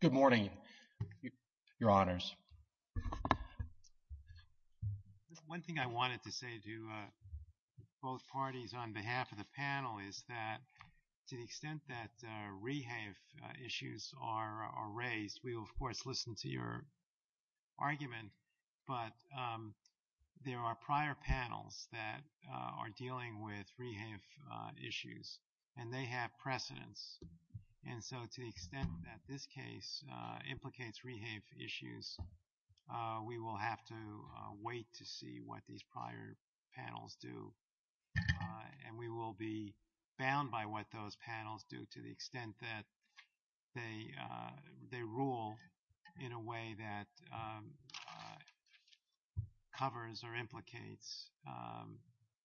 Good morning, your honors. One thing I wanted to say to both parties on behalf of the panel is that to the extent that rehave issues are raised, we will of course listen to your argument, but there are prior panels that are dealing with rehave issues, and they have precedents, and so to the extent that this case implicates rehave issues, we will have to wait to see what these prior panels do, and we will be bound by what those panels do to the extent that they rule in a way that covers or implicates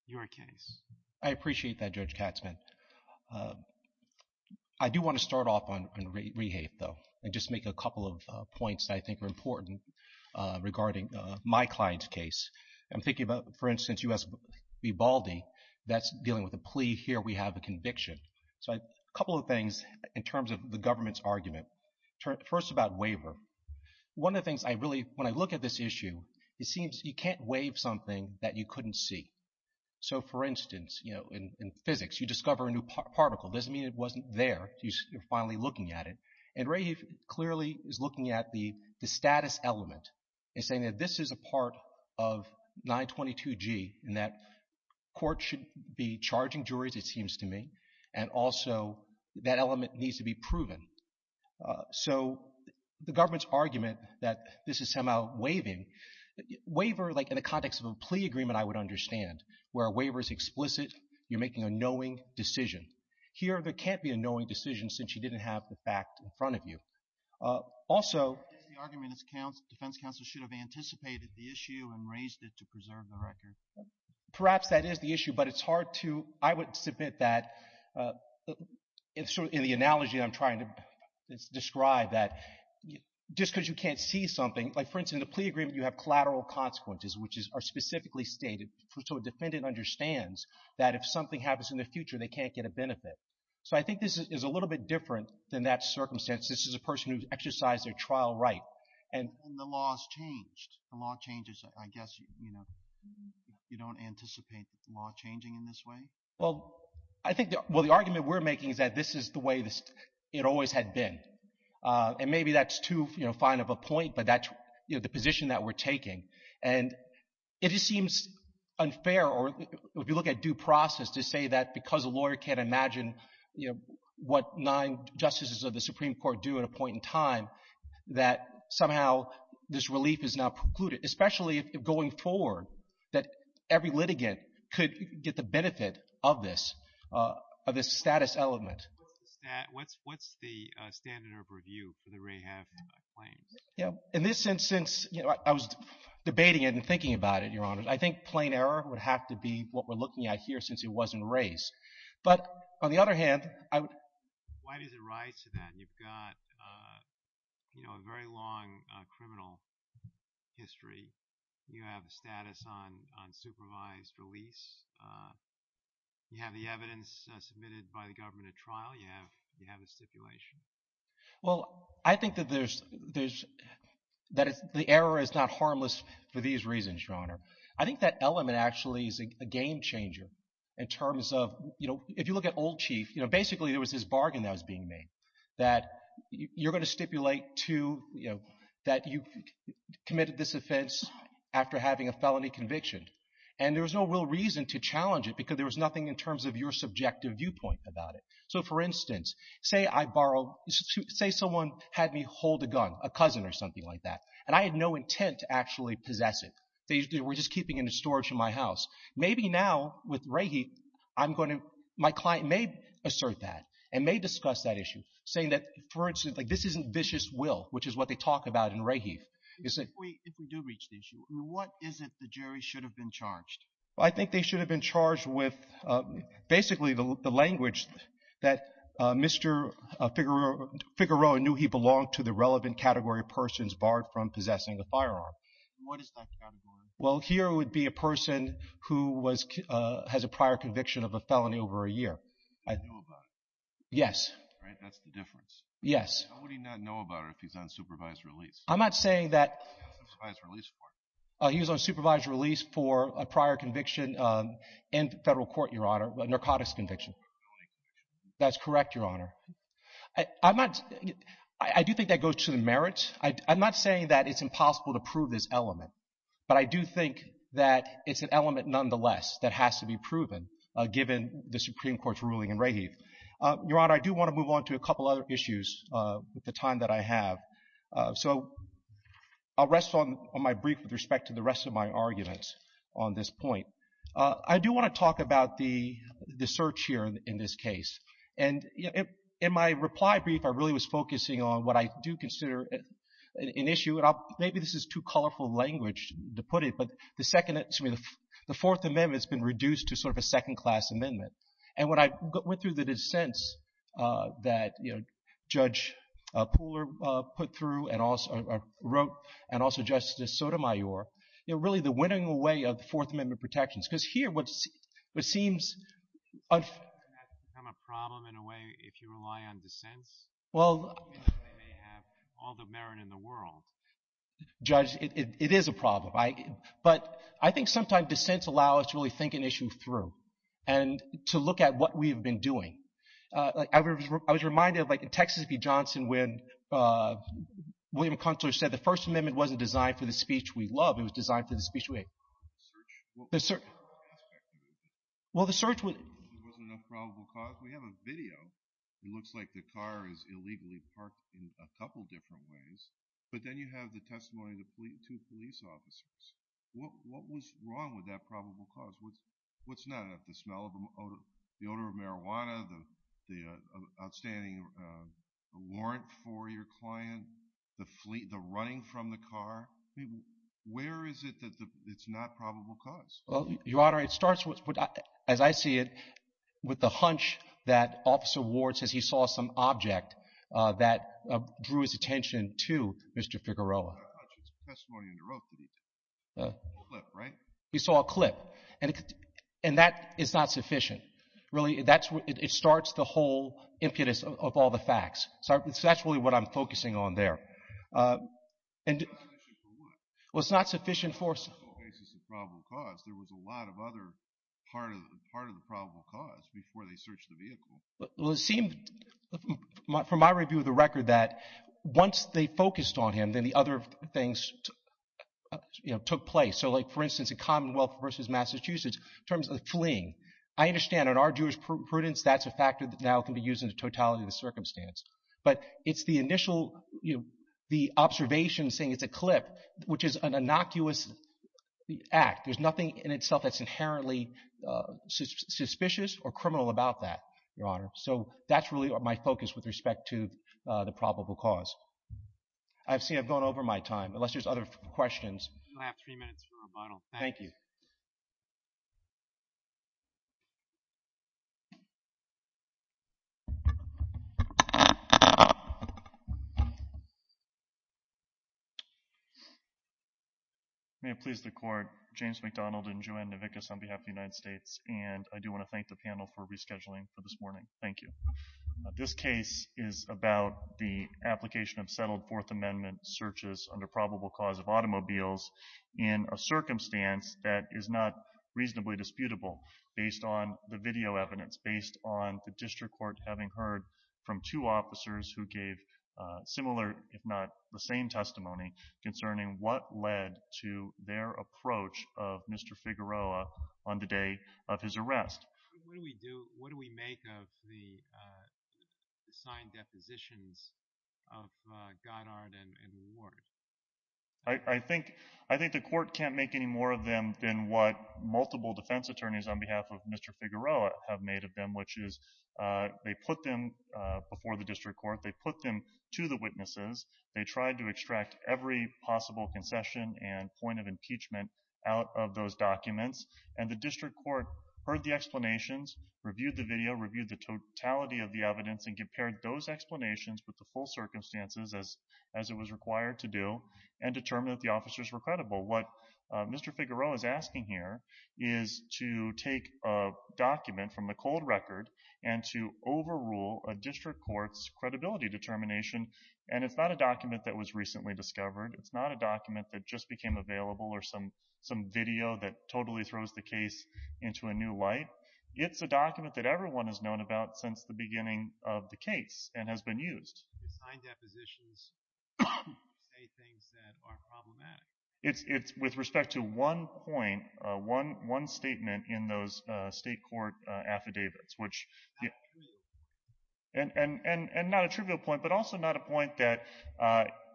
your case. I appreciate that, Judge Katzman. I do want to start off on rehave, though, and just make a couple of points that I think are important regarding my client's case. I'm thinking about, for instance, U.S. v. Baldy, that's dealing with a plea. Here we have a conviction. So a couple of things in terms of the government's argument. First, about waiver. One of the things I really, when I look at this issue, it seems you can't waive something that you couldn't see. So for instance, you know, in physics, you discover a new particle. Doesn't mean it wasn't there. You're finally looking at it, and rehave clearly is looking at the status element and saying that this is a part of 922G, and that court should be charging juries, it seems to me, and also that element needs to be proven. So the government's argument that this is somehow waiving. Waiver, like, in the context of a plea agreement, I would understand, where a waiver is explicit. You're making a knowing decision. Here, there can't be a knowing decision since you didn't have the fact in front of you. Also, the argument is defense counsel should have anticipated the issue and raised it to preserve the record. Perhaps that is the issue, but it's hard to, I would submit that, in the analogy I'm trying to describe, that just because you can't see something, like for instance, in a plea agreement, you have collateral consequences, which are specifically stated so a defendant understands that if something happens in the future, they can't get a benefit. So I think this is a little bit different than that circumstance. This is a person who's exercised their trial right, and the law has changed. The law changes, I guess, you know, you don't anticipate the law changing in this way? Well, I think, well, the argument we're making is that this is the way it always had been, and maybe that's too, you know, fine of a point, but that's, you know, the position that we're taking, and it just seems unfair, or if you look at due process, to say that because a lawyer can't imagine, you know, what nine justices of the Supreme Court do at a point in time, that somehow this relief is not included, especially if going forward, that every litigant could get the benefit of this, of this status element. What's the standard of review for the Rahaf claims? Yeah, in this instance, you know, I was debating it and thinking about it, Your Honor. I think plain error would have to be what we're looking at here, since it wasn't raised, but on the other hand, I would... Why does it rise to that? You've got, you know, a very long criminal history. You have a status on supervised release. You have the evidence submitted by the government at trial. You have, you have a stipulation. Well, I think that there's, that the error is not harmless for these reasons, Your Honor. I think that element actually is a game-changer in terms of, you know, if you look at old chief, you know, basically there was this bargain that was being made, that you're going to stipulate to, you know, that you committed this offense after having a felony conviction, and there was no real reason to challenge it because there was nothing in terms of your subjective viewpoint about it. So, for instance, say I borrow, say someone had me hold a gun, a cousin or something like that, and I had no intent to actually possess it. They were just keeping it in storage in my house. Maybe now, with Rahief, I'm going to, my client may assert that and may discuss that issue, saying that, for instance, like this isn't vicious will, which is what they talk about in Rahief. If we do reach the issue, what is it the jury should have been charged? I think they should have been charged with basically the language that Mr. Figueroa knew he belonged to the relevant category of persons barred from possessing a firearm. What is that category? Well, here would be a person who has a prior conviction of a felony over a year. He knew about it. Yes. Right, that's the difference. Yes. How would he not know about it if he's on supervised release? I'm not saying that... He's on supervised release for it. He was on supervised release for a prior conviction in federal court, Your Honor, a narcotics conviction. A felony conviction. That's correct, Your Honor. I'm not, I do think that goes to the merits. I'm not saying that it's impossible to prove this element, but I do think that it's an element, nonetheless, that has to be proven given the Supreme Court's ruling in Rahief. Your Honor, I do want to move on to a couple other issues with the time that I have. So I'll rest on my brief with respect to the rest of my arguments on this point. I do want to talk about the search here in this case. And in my reply brief, I really was focusing on what I do consider an issue, and maybe this is too colorful language to put it, but the Second, excuse me, the Fourth Amendment has been reduced to sort of a second class amendment. And when I went through the dissents that, you know, Judge Pooler put through and also wrote, and also Justice Sotomayor, you know, really the problem, in a way, if you rely on dissents, they may have all the merit in the world. Judge, it is a problem. But I think sometimes dissents allow us to really think an issue through and to look at what we have been doing. I was reminded of, like, in Texas v. Johnson when William Kunstler said the First Amendment wasn't designed for the speech we love, it was designed for the speech we hate. The search? The search. Well, the search was— There wasn't enough probable cause? We have a video. It looks like the car is illegally parked in a couple different ways, but then you have the testimony of two police officers. What was wrong with that probable cause? What's not enough? The smell of, the odor of marijuana, the outstanding warrant for your client, the running from the car? Where is it that it's not probable cause? Well, Your Honor, it starts, as I see it, with the hunch that Officer Ward says he saw some object that drew his attention to Mr. Figueroa. It's a testimony in the rope that he took. A clip, right? He saw a clip. And that is not sufficient. Really, it starts the whole impetus of all the facts. So that's really what I'm focusing on there. It's not sufficient for what? Well, it's not sufficient for— The whole basis of probable cause. There was a lot of other part of the probable cause before they searched the vehicle. Well, it seemed, from my review of the record, that once they focused on him, then the other things took place. So, like, for instance, in Commonwealth v. Massachusetts, in terms of fleeing, I understand on our jurisprudence, that's a factor that now can be used in the totality of the circumstance. But it's the initial, you know, the observation saying it's a clip, which is an innocuous act. There's nothing in itself that's inherently suspicious or criminal about that, Your Honor. So that's really my focus with respect to the probable cause. I've seen—I've gone over my time, unless there's other questions. You still have three minutes for rebuttal. Thank you. May it please the Court, James McDonald and Joanne Novickis on behalf of the United States, and I do want to thank the panel for rescheduling for this morning. Thank you. This case is about the application of settled Fourth Amendment searches under probable cause of automobiles in a circumstance that is not reasonably disputable based on the video evidence, based on the district court having heard from two officers who gave similar, if not the same testimony, concerning what led to their approach of Mr. Figueroa on the day of his arrest. What do we do—what do we make of the signed depositions of Goddard and Ward? I think the Court can't make any more of them than what multiple defense attorneys on behalf Mr. Figueroa have made of them, which is they put them before the district court, they put them to the witnesses, they tried to extract every possible concession and point of impeachment out of those documents, and the district court heard the explanations, reviewed the video, reviewed the totality of the evidence, and compared those explanations with the full circumstances as it was required to do, and determined that the officers were credible. What Mr. Figueroa is asking here is to take a document from the cold record and to overrule a district court's credibility determination, and it's not a document that was recently discovered, it's not a document that just became available or some video that totally throws the case into a new light. It's a document that everyone has known about since the beginning of the case and has been used. Signed depositions say things that are problematic. It's with respect to one point, one statement in those state court affidavits, which—and not a trivial point, but also not a point that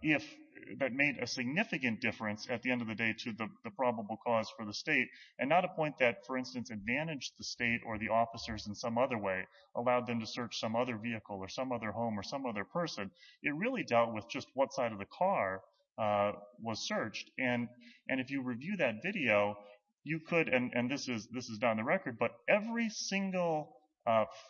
made a significant difference at the end of the day to the probable cause for the state, and not a point that, for instance, advantaged the state or the officers in some other way, allowed them to search some other vehicle or some other home or some other person. It really dealt with just what side of the car was searched, and if you review that video, you could—and this is not in the record—but every single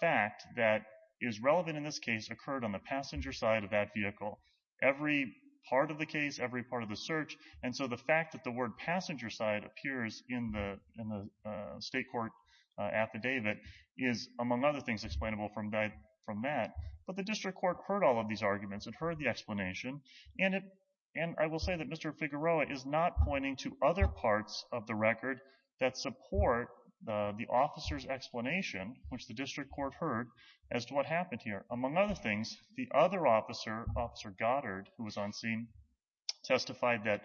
fact that is relevant in this case occurred on the passenger side of that vehicle. Every part of the case, every part of the search, and so the fact that the word passenger side appears in the state court affidavit is, among other things, explainable from that. But the district court heard all of these arguments and heard the explanation, and I will say that Mr. Figueroa is not pointing to other parts of the record that support the officer's explanation, which the district court heard, as to what happened here. Among other things, the other officer, Officer Goddard, who was on scene, testified that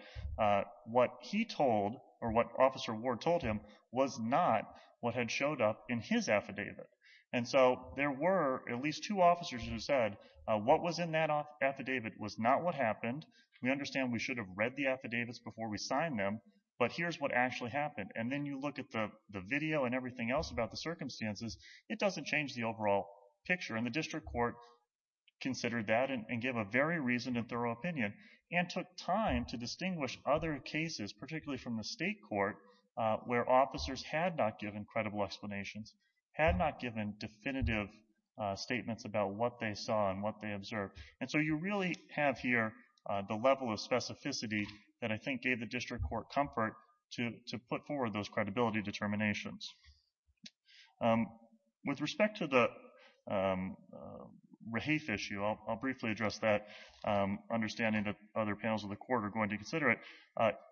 what he told, or what Officer Ward told him, was not what had showed up in his affidavit. And so there were at least two officers who said, what was in that affidavit was not what happened. We understand we should have read the affidavits before we signed them, but here's what actually happened. And then you look at the video and everything else about the circumstances, it doesn't change the overall picture, and the district court considered that and gave a very reasoned and thorough opinion, and took time to distinguish other cases, particularly from the state court, where officers had not given credible explanations, had not given definitive statements about what they saw and what they observed. And so you really have here the level of specificity that I think gave the district court comfort to put forward those credibility determinations. With respect to the Raheif issue, I'll briefly address that, understanding that other panels of the court are going to consider it.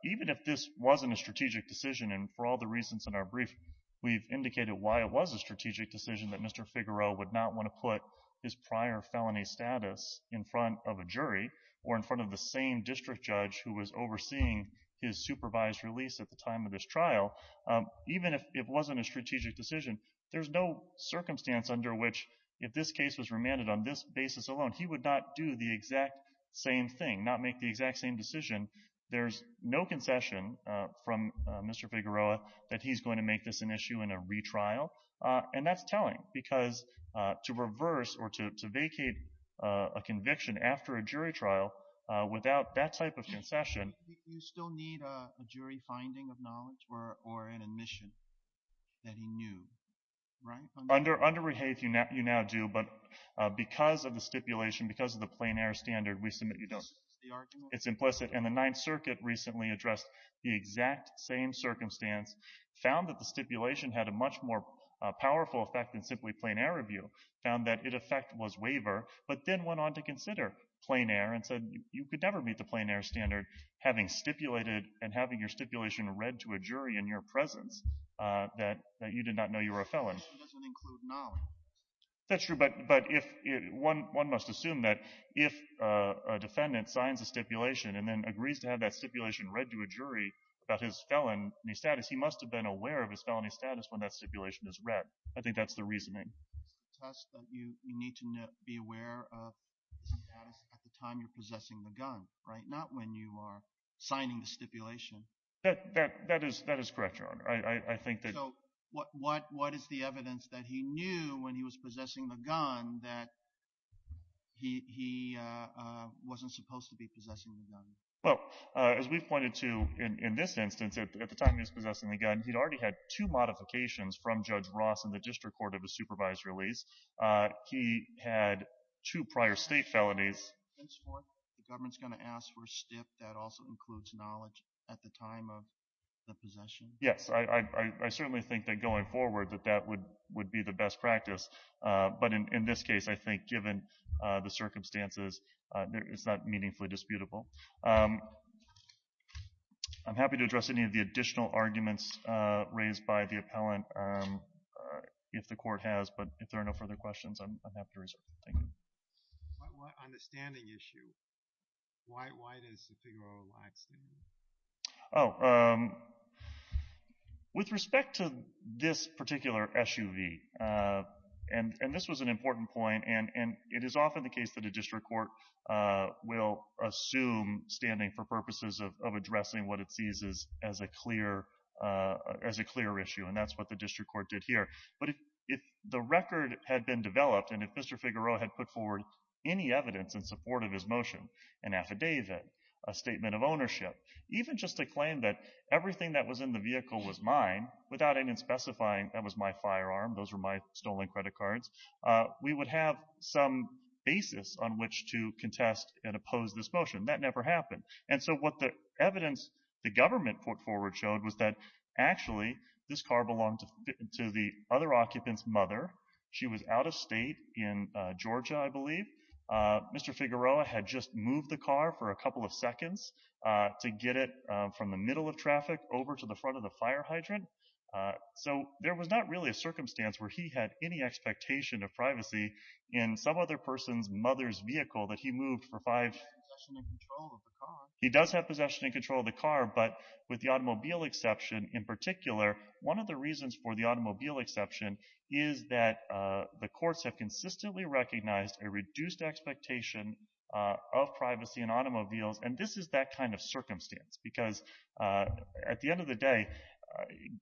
Even if this wasn't a strategic decision, and for all the reasons in our brief, we've indicated why it was a strategic decision that Mr. Figueroa would not want to put his prior felony status in front of a jury, or in front of the same district judge who was overseeing his supervised release at the time of this trial, even if it wasn't a strategic decision, there's no circumstance under which, if this case was remanded on this basis alone, he would not do the exact same thing, not make the exact same decision. There's no concession from Mr. Figueroa that he's going to make this an issue in a retrial. And that's telling, because to reverse or to vacate a conviction after a jury trial without that type of concession... that he knew, right? Under Raheif, you now do, but because of the stipulation, because of the plain air standard, we submit you don't. It's implicit. And the Ninth Circuit recently addressed the exact same circumstance, found that the stipulation had a much more powerful effect than simply plain air review, found that it effect was waiver, but then went on to consider plain air and said you could never meet the plain air standard, having stipulated and having your stipulation read to a jury in your presence, that you did not know you were a felon. It doesn't include knowledge. That's true, but one must assume that if a defendant signs a stipulation and then agrees to have that stipulation read to a jury about his felony status, he must have been aware of his felony status when that stipulation is read. I think that's the reasoning. You need to be aware of the status at the time you're possessing the gun, not when you are signing the stipulation. That is correct, Your Honor. So what is the evidence that he knew when he was possessing the gun that he wasn't supposed to be possessing the gun? Well, as we've pointed to in this instance, at the time he was possessing the gun, he'd already had two modifications from Judge Ross in the district court of a supervised release. He had two prior state felonies. The government's going to ask for a stip that also includes knowledge at the time of the possession? Yes, I certainly think that going forward that that would be the best practice, but in this case, I think given the circumstances, it's not meaningfully disputable. I'm happy to address any of the additional arguments raised by the appellant if the court has, but if there are no further questions, I'm happy to reserve the thing. On the standing issue, why does the figure overlap standing? With respect to this particular SUV, and this was an important point, and it is often the case that a district court will assume standing for purposes of addressing what it sees as a clear issue, and that's what the district court did here, but if the record had been developed and if Mr. Figueroa had put forward any evidence in support of his motion, an affidavit, a statement of ownership, even just a claim that everything that was in the vehicle was mine without any specifying that was my firearm, those were my stolen credit cards, we would have some basis on which to contest and oppose this motion. That never happened, and so what the evidence the government put forward showed was that actually this car belonged to the other occupant's mother. She was out of state in Georgia, I believe. Mr. Figueroa had just moved the car for a couple of seconds to get it from the middle of traffic over to the front of the fire hydrant, so there was not really a circumstance where he had any expectation of privacy in some other person's mother's vehicle that he moved for possession and control of the car. He does have possession and control of the car, but with the automobile exception in particular, one of the reasons for the automobile exception is that the courts have consistently recognized a reduced expectation of privacy in automobiles, and this is that kind of circumstance, because at the end of the day,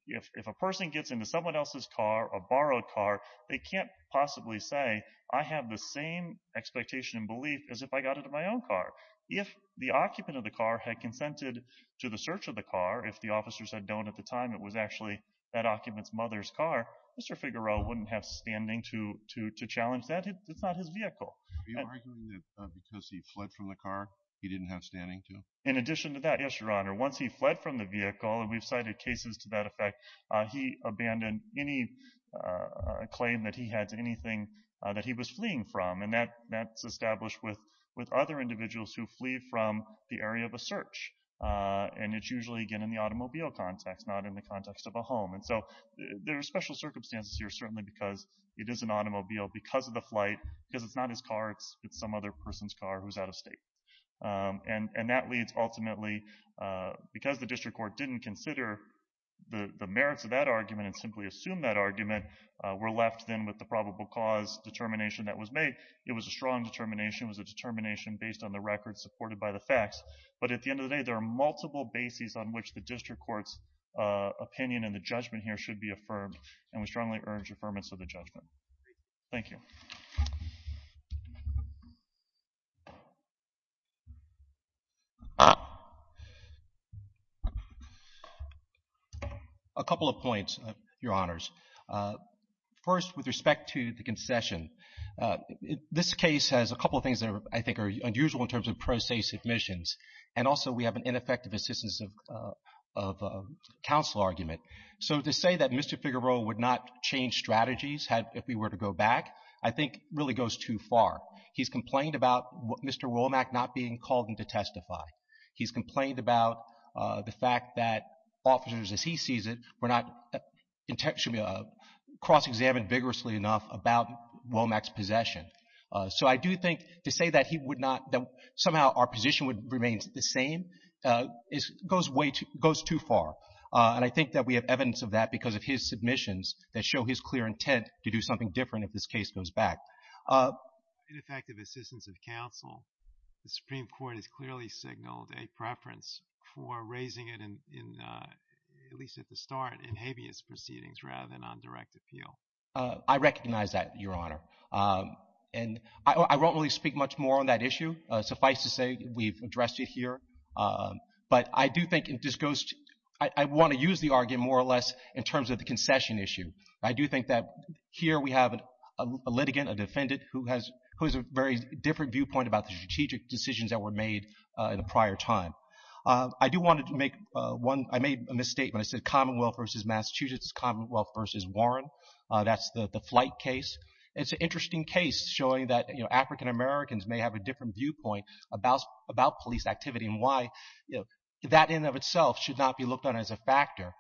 if a person gets into someone else's car, a borrowed car, they can't possibly say, I have the same expectation and belief as if I got into my own car. If the occupant of the car had consented to the search of the car, if the officers had known at the time it was actually that occupant's mother's car, Mr. Figueroa wouldn't have standing to challenge that. It's not his vehicle. Are you arguing that because he fled from the car, he didn't have standing to? In addition to that, yes, your honor, once he fled from the vehicle, and we've cited cases to that effect, he abandoned any claim that he had to anything that he was fleeing from, and that's established with other individuals who flee from the area of a search, and it's usually, again, in the automobile context, not in the context of a home, and so there are special circumstances here, certainly because it is an automobile because of the flight, because it's not his car, it's some other person's car who's out of state, and that leads ultimately, because the district court didn't consider the merits of that argument and simply assume that argument, we're left then with the probable cause determination that was made. It was a strong determination. It was a determination based on the records supported by the facts, but at the end of the day, there are multiple bases on which the district court's opinion and the judgment here should be affirmed, and we strongly urge affirmance of the judgment. Thank you. A couple of points, Your Honors. First, with respect to the concession, this case has a couple of things that I think are unusual in terms of pro se submissions, and also we have an ineffective assistance of counsel argument, so to say that Mr. Figueroa would not change strategies if we were to go back, I think really goes too far. He's complained about Mr. Womack not being called in to testify. He's complained about the fact that officers, as he sees it, were not cross-examined vigorously enough about Womack's possession, so I do think to say that somehow our position would remain the same goes too far, and I think that we have evidence of that because of his submissions that show his clear intent to do something different if this case goes back. Ineffective assistance of counsel, the Supreme Court has clearly signaled a preference for raising it in, at least at the start, in habeas proceedings rather than on direct appeal. I recognize that, Your Honor, and I won't really speak much more on that issue. Suffice to say we've addressed it here, but I do think it just goes, I want to use the argument more or less in terms of the concession issue. I do think that here we have a litigant, a defendant, who has a very different viewpoint about the strategic decisions that were made in a prior time. I do want to make one, I made a misstatement. I said Commonwealth versus Massachusetts, Commonwealth versus Warren. That's the flight case. It's an interesting case showing that, you know, African Americans may have a different viewpoint about police activity and why, you know, that in and of itself should not be looked on as a factor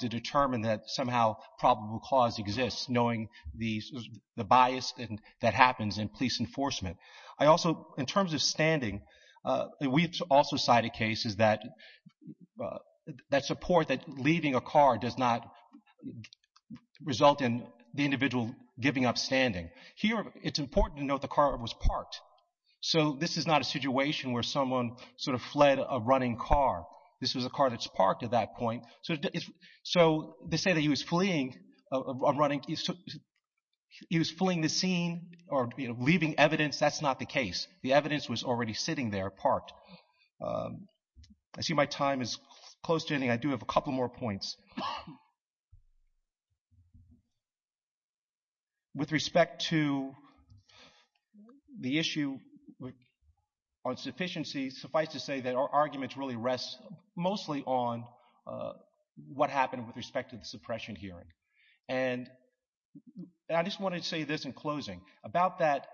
to determine that somehow probable cause exists knowing the bias that happens in police enforcement. I also, in terms of standing, we've also cited cases that support that leaving a car does not result in the individual giving up standing. Here, it's important to note the car was parked. So this is not a situation where someone sort of fled a running car. This was a car that's parked at that point. So to say that he was fleeing or running, he was fleeing the scene or leaving evidence, that's not the case. The evidence was already sitting there, parked. I see my time is close to ending. I do have a couple more points. With respect to the issue on sufficiency, suffice to say that our arguments really rest mostly on what happened with respect to the suppression hearing. And I just wanted to say this in closing. About that,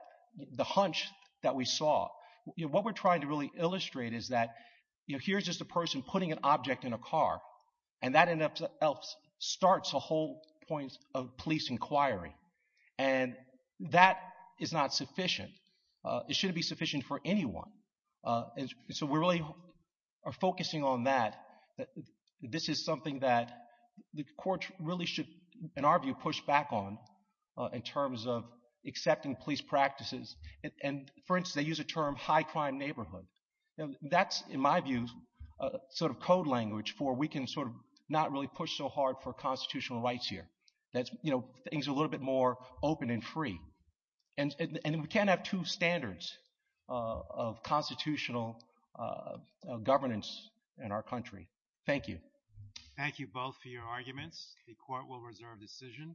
the hunch that we saw, you know, what we're trying to really illustrate is that, you know, here's just a person putting an object in a car and that starts a whole point of police inquiry. And that is not sufficient. It shouldn't be sufficient for anyone. So we really are focusing on that. This is something that the courts really should, in our view, push back on in terms of accepting police practices. And, for instance, they use the term high-crime neighborhood. That's, in my view, sort of code language for we can sort of not really push so hard for constitutional rights here. That's, you know, things a little bit more open and free. And we can't have two standards of constitutional governance in our country. Thank you. Thank you both for your arguments. The court will reserve decision.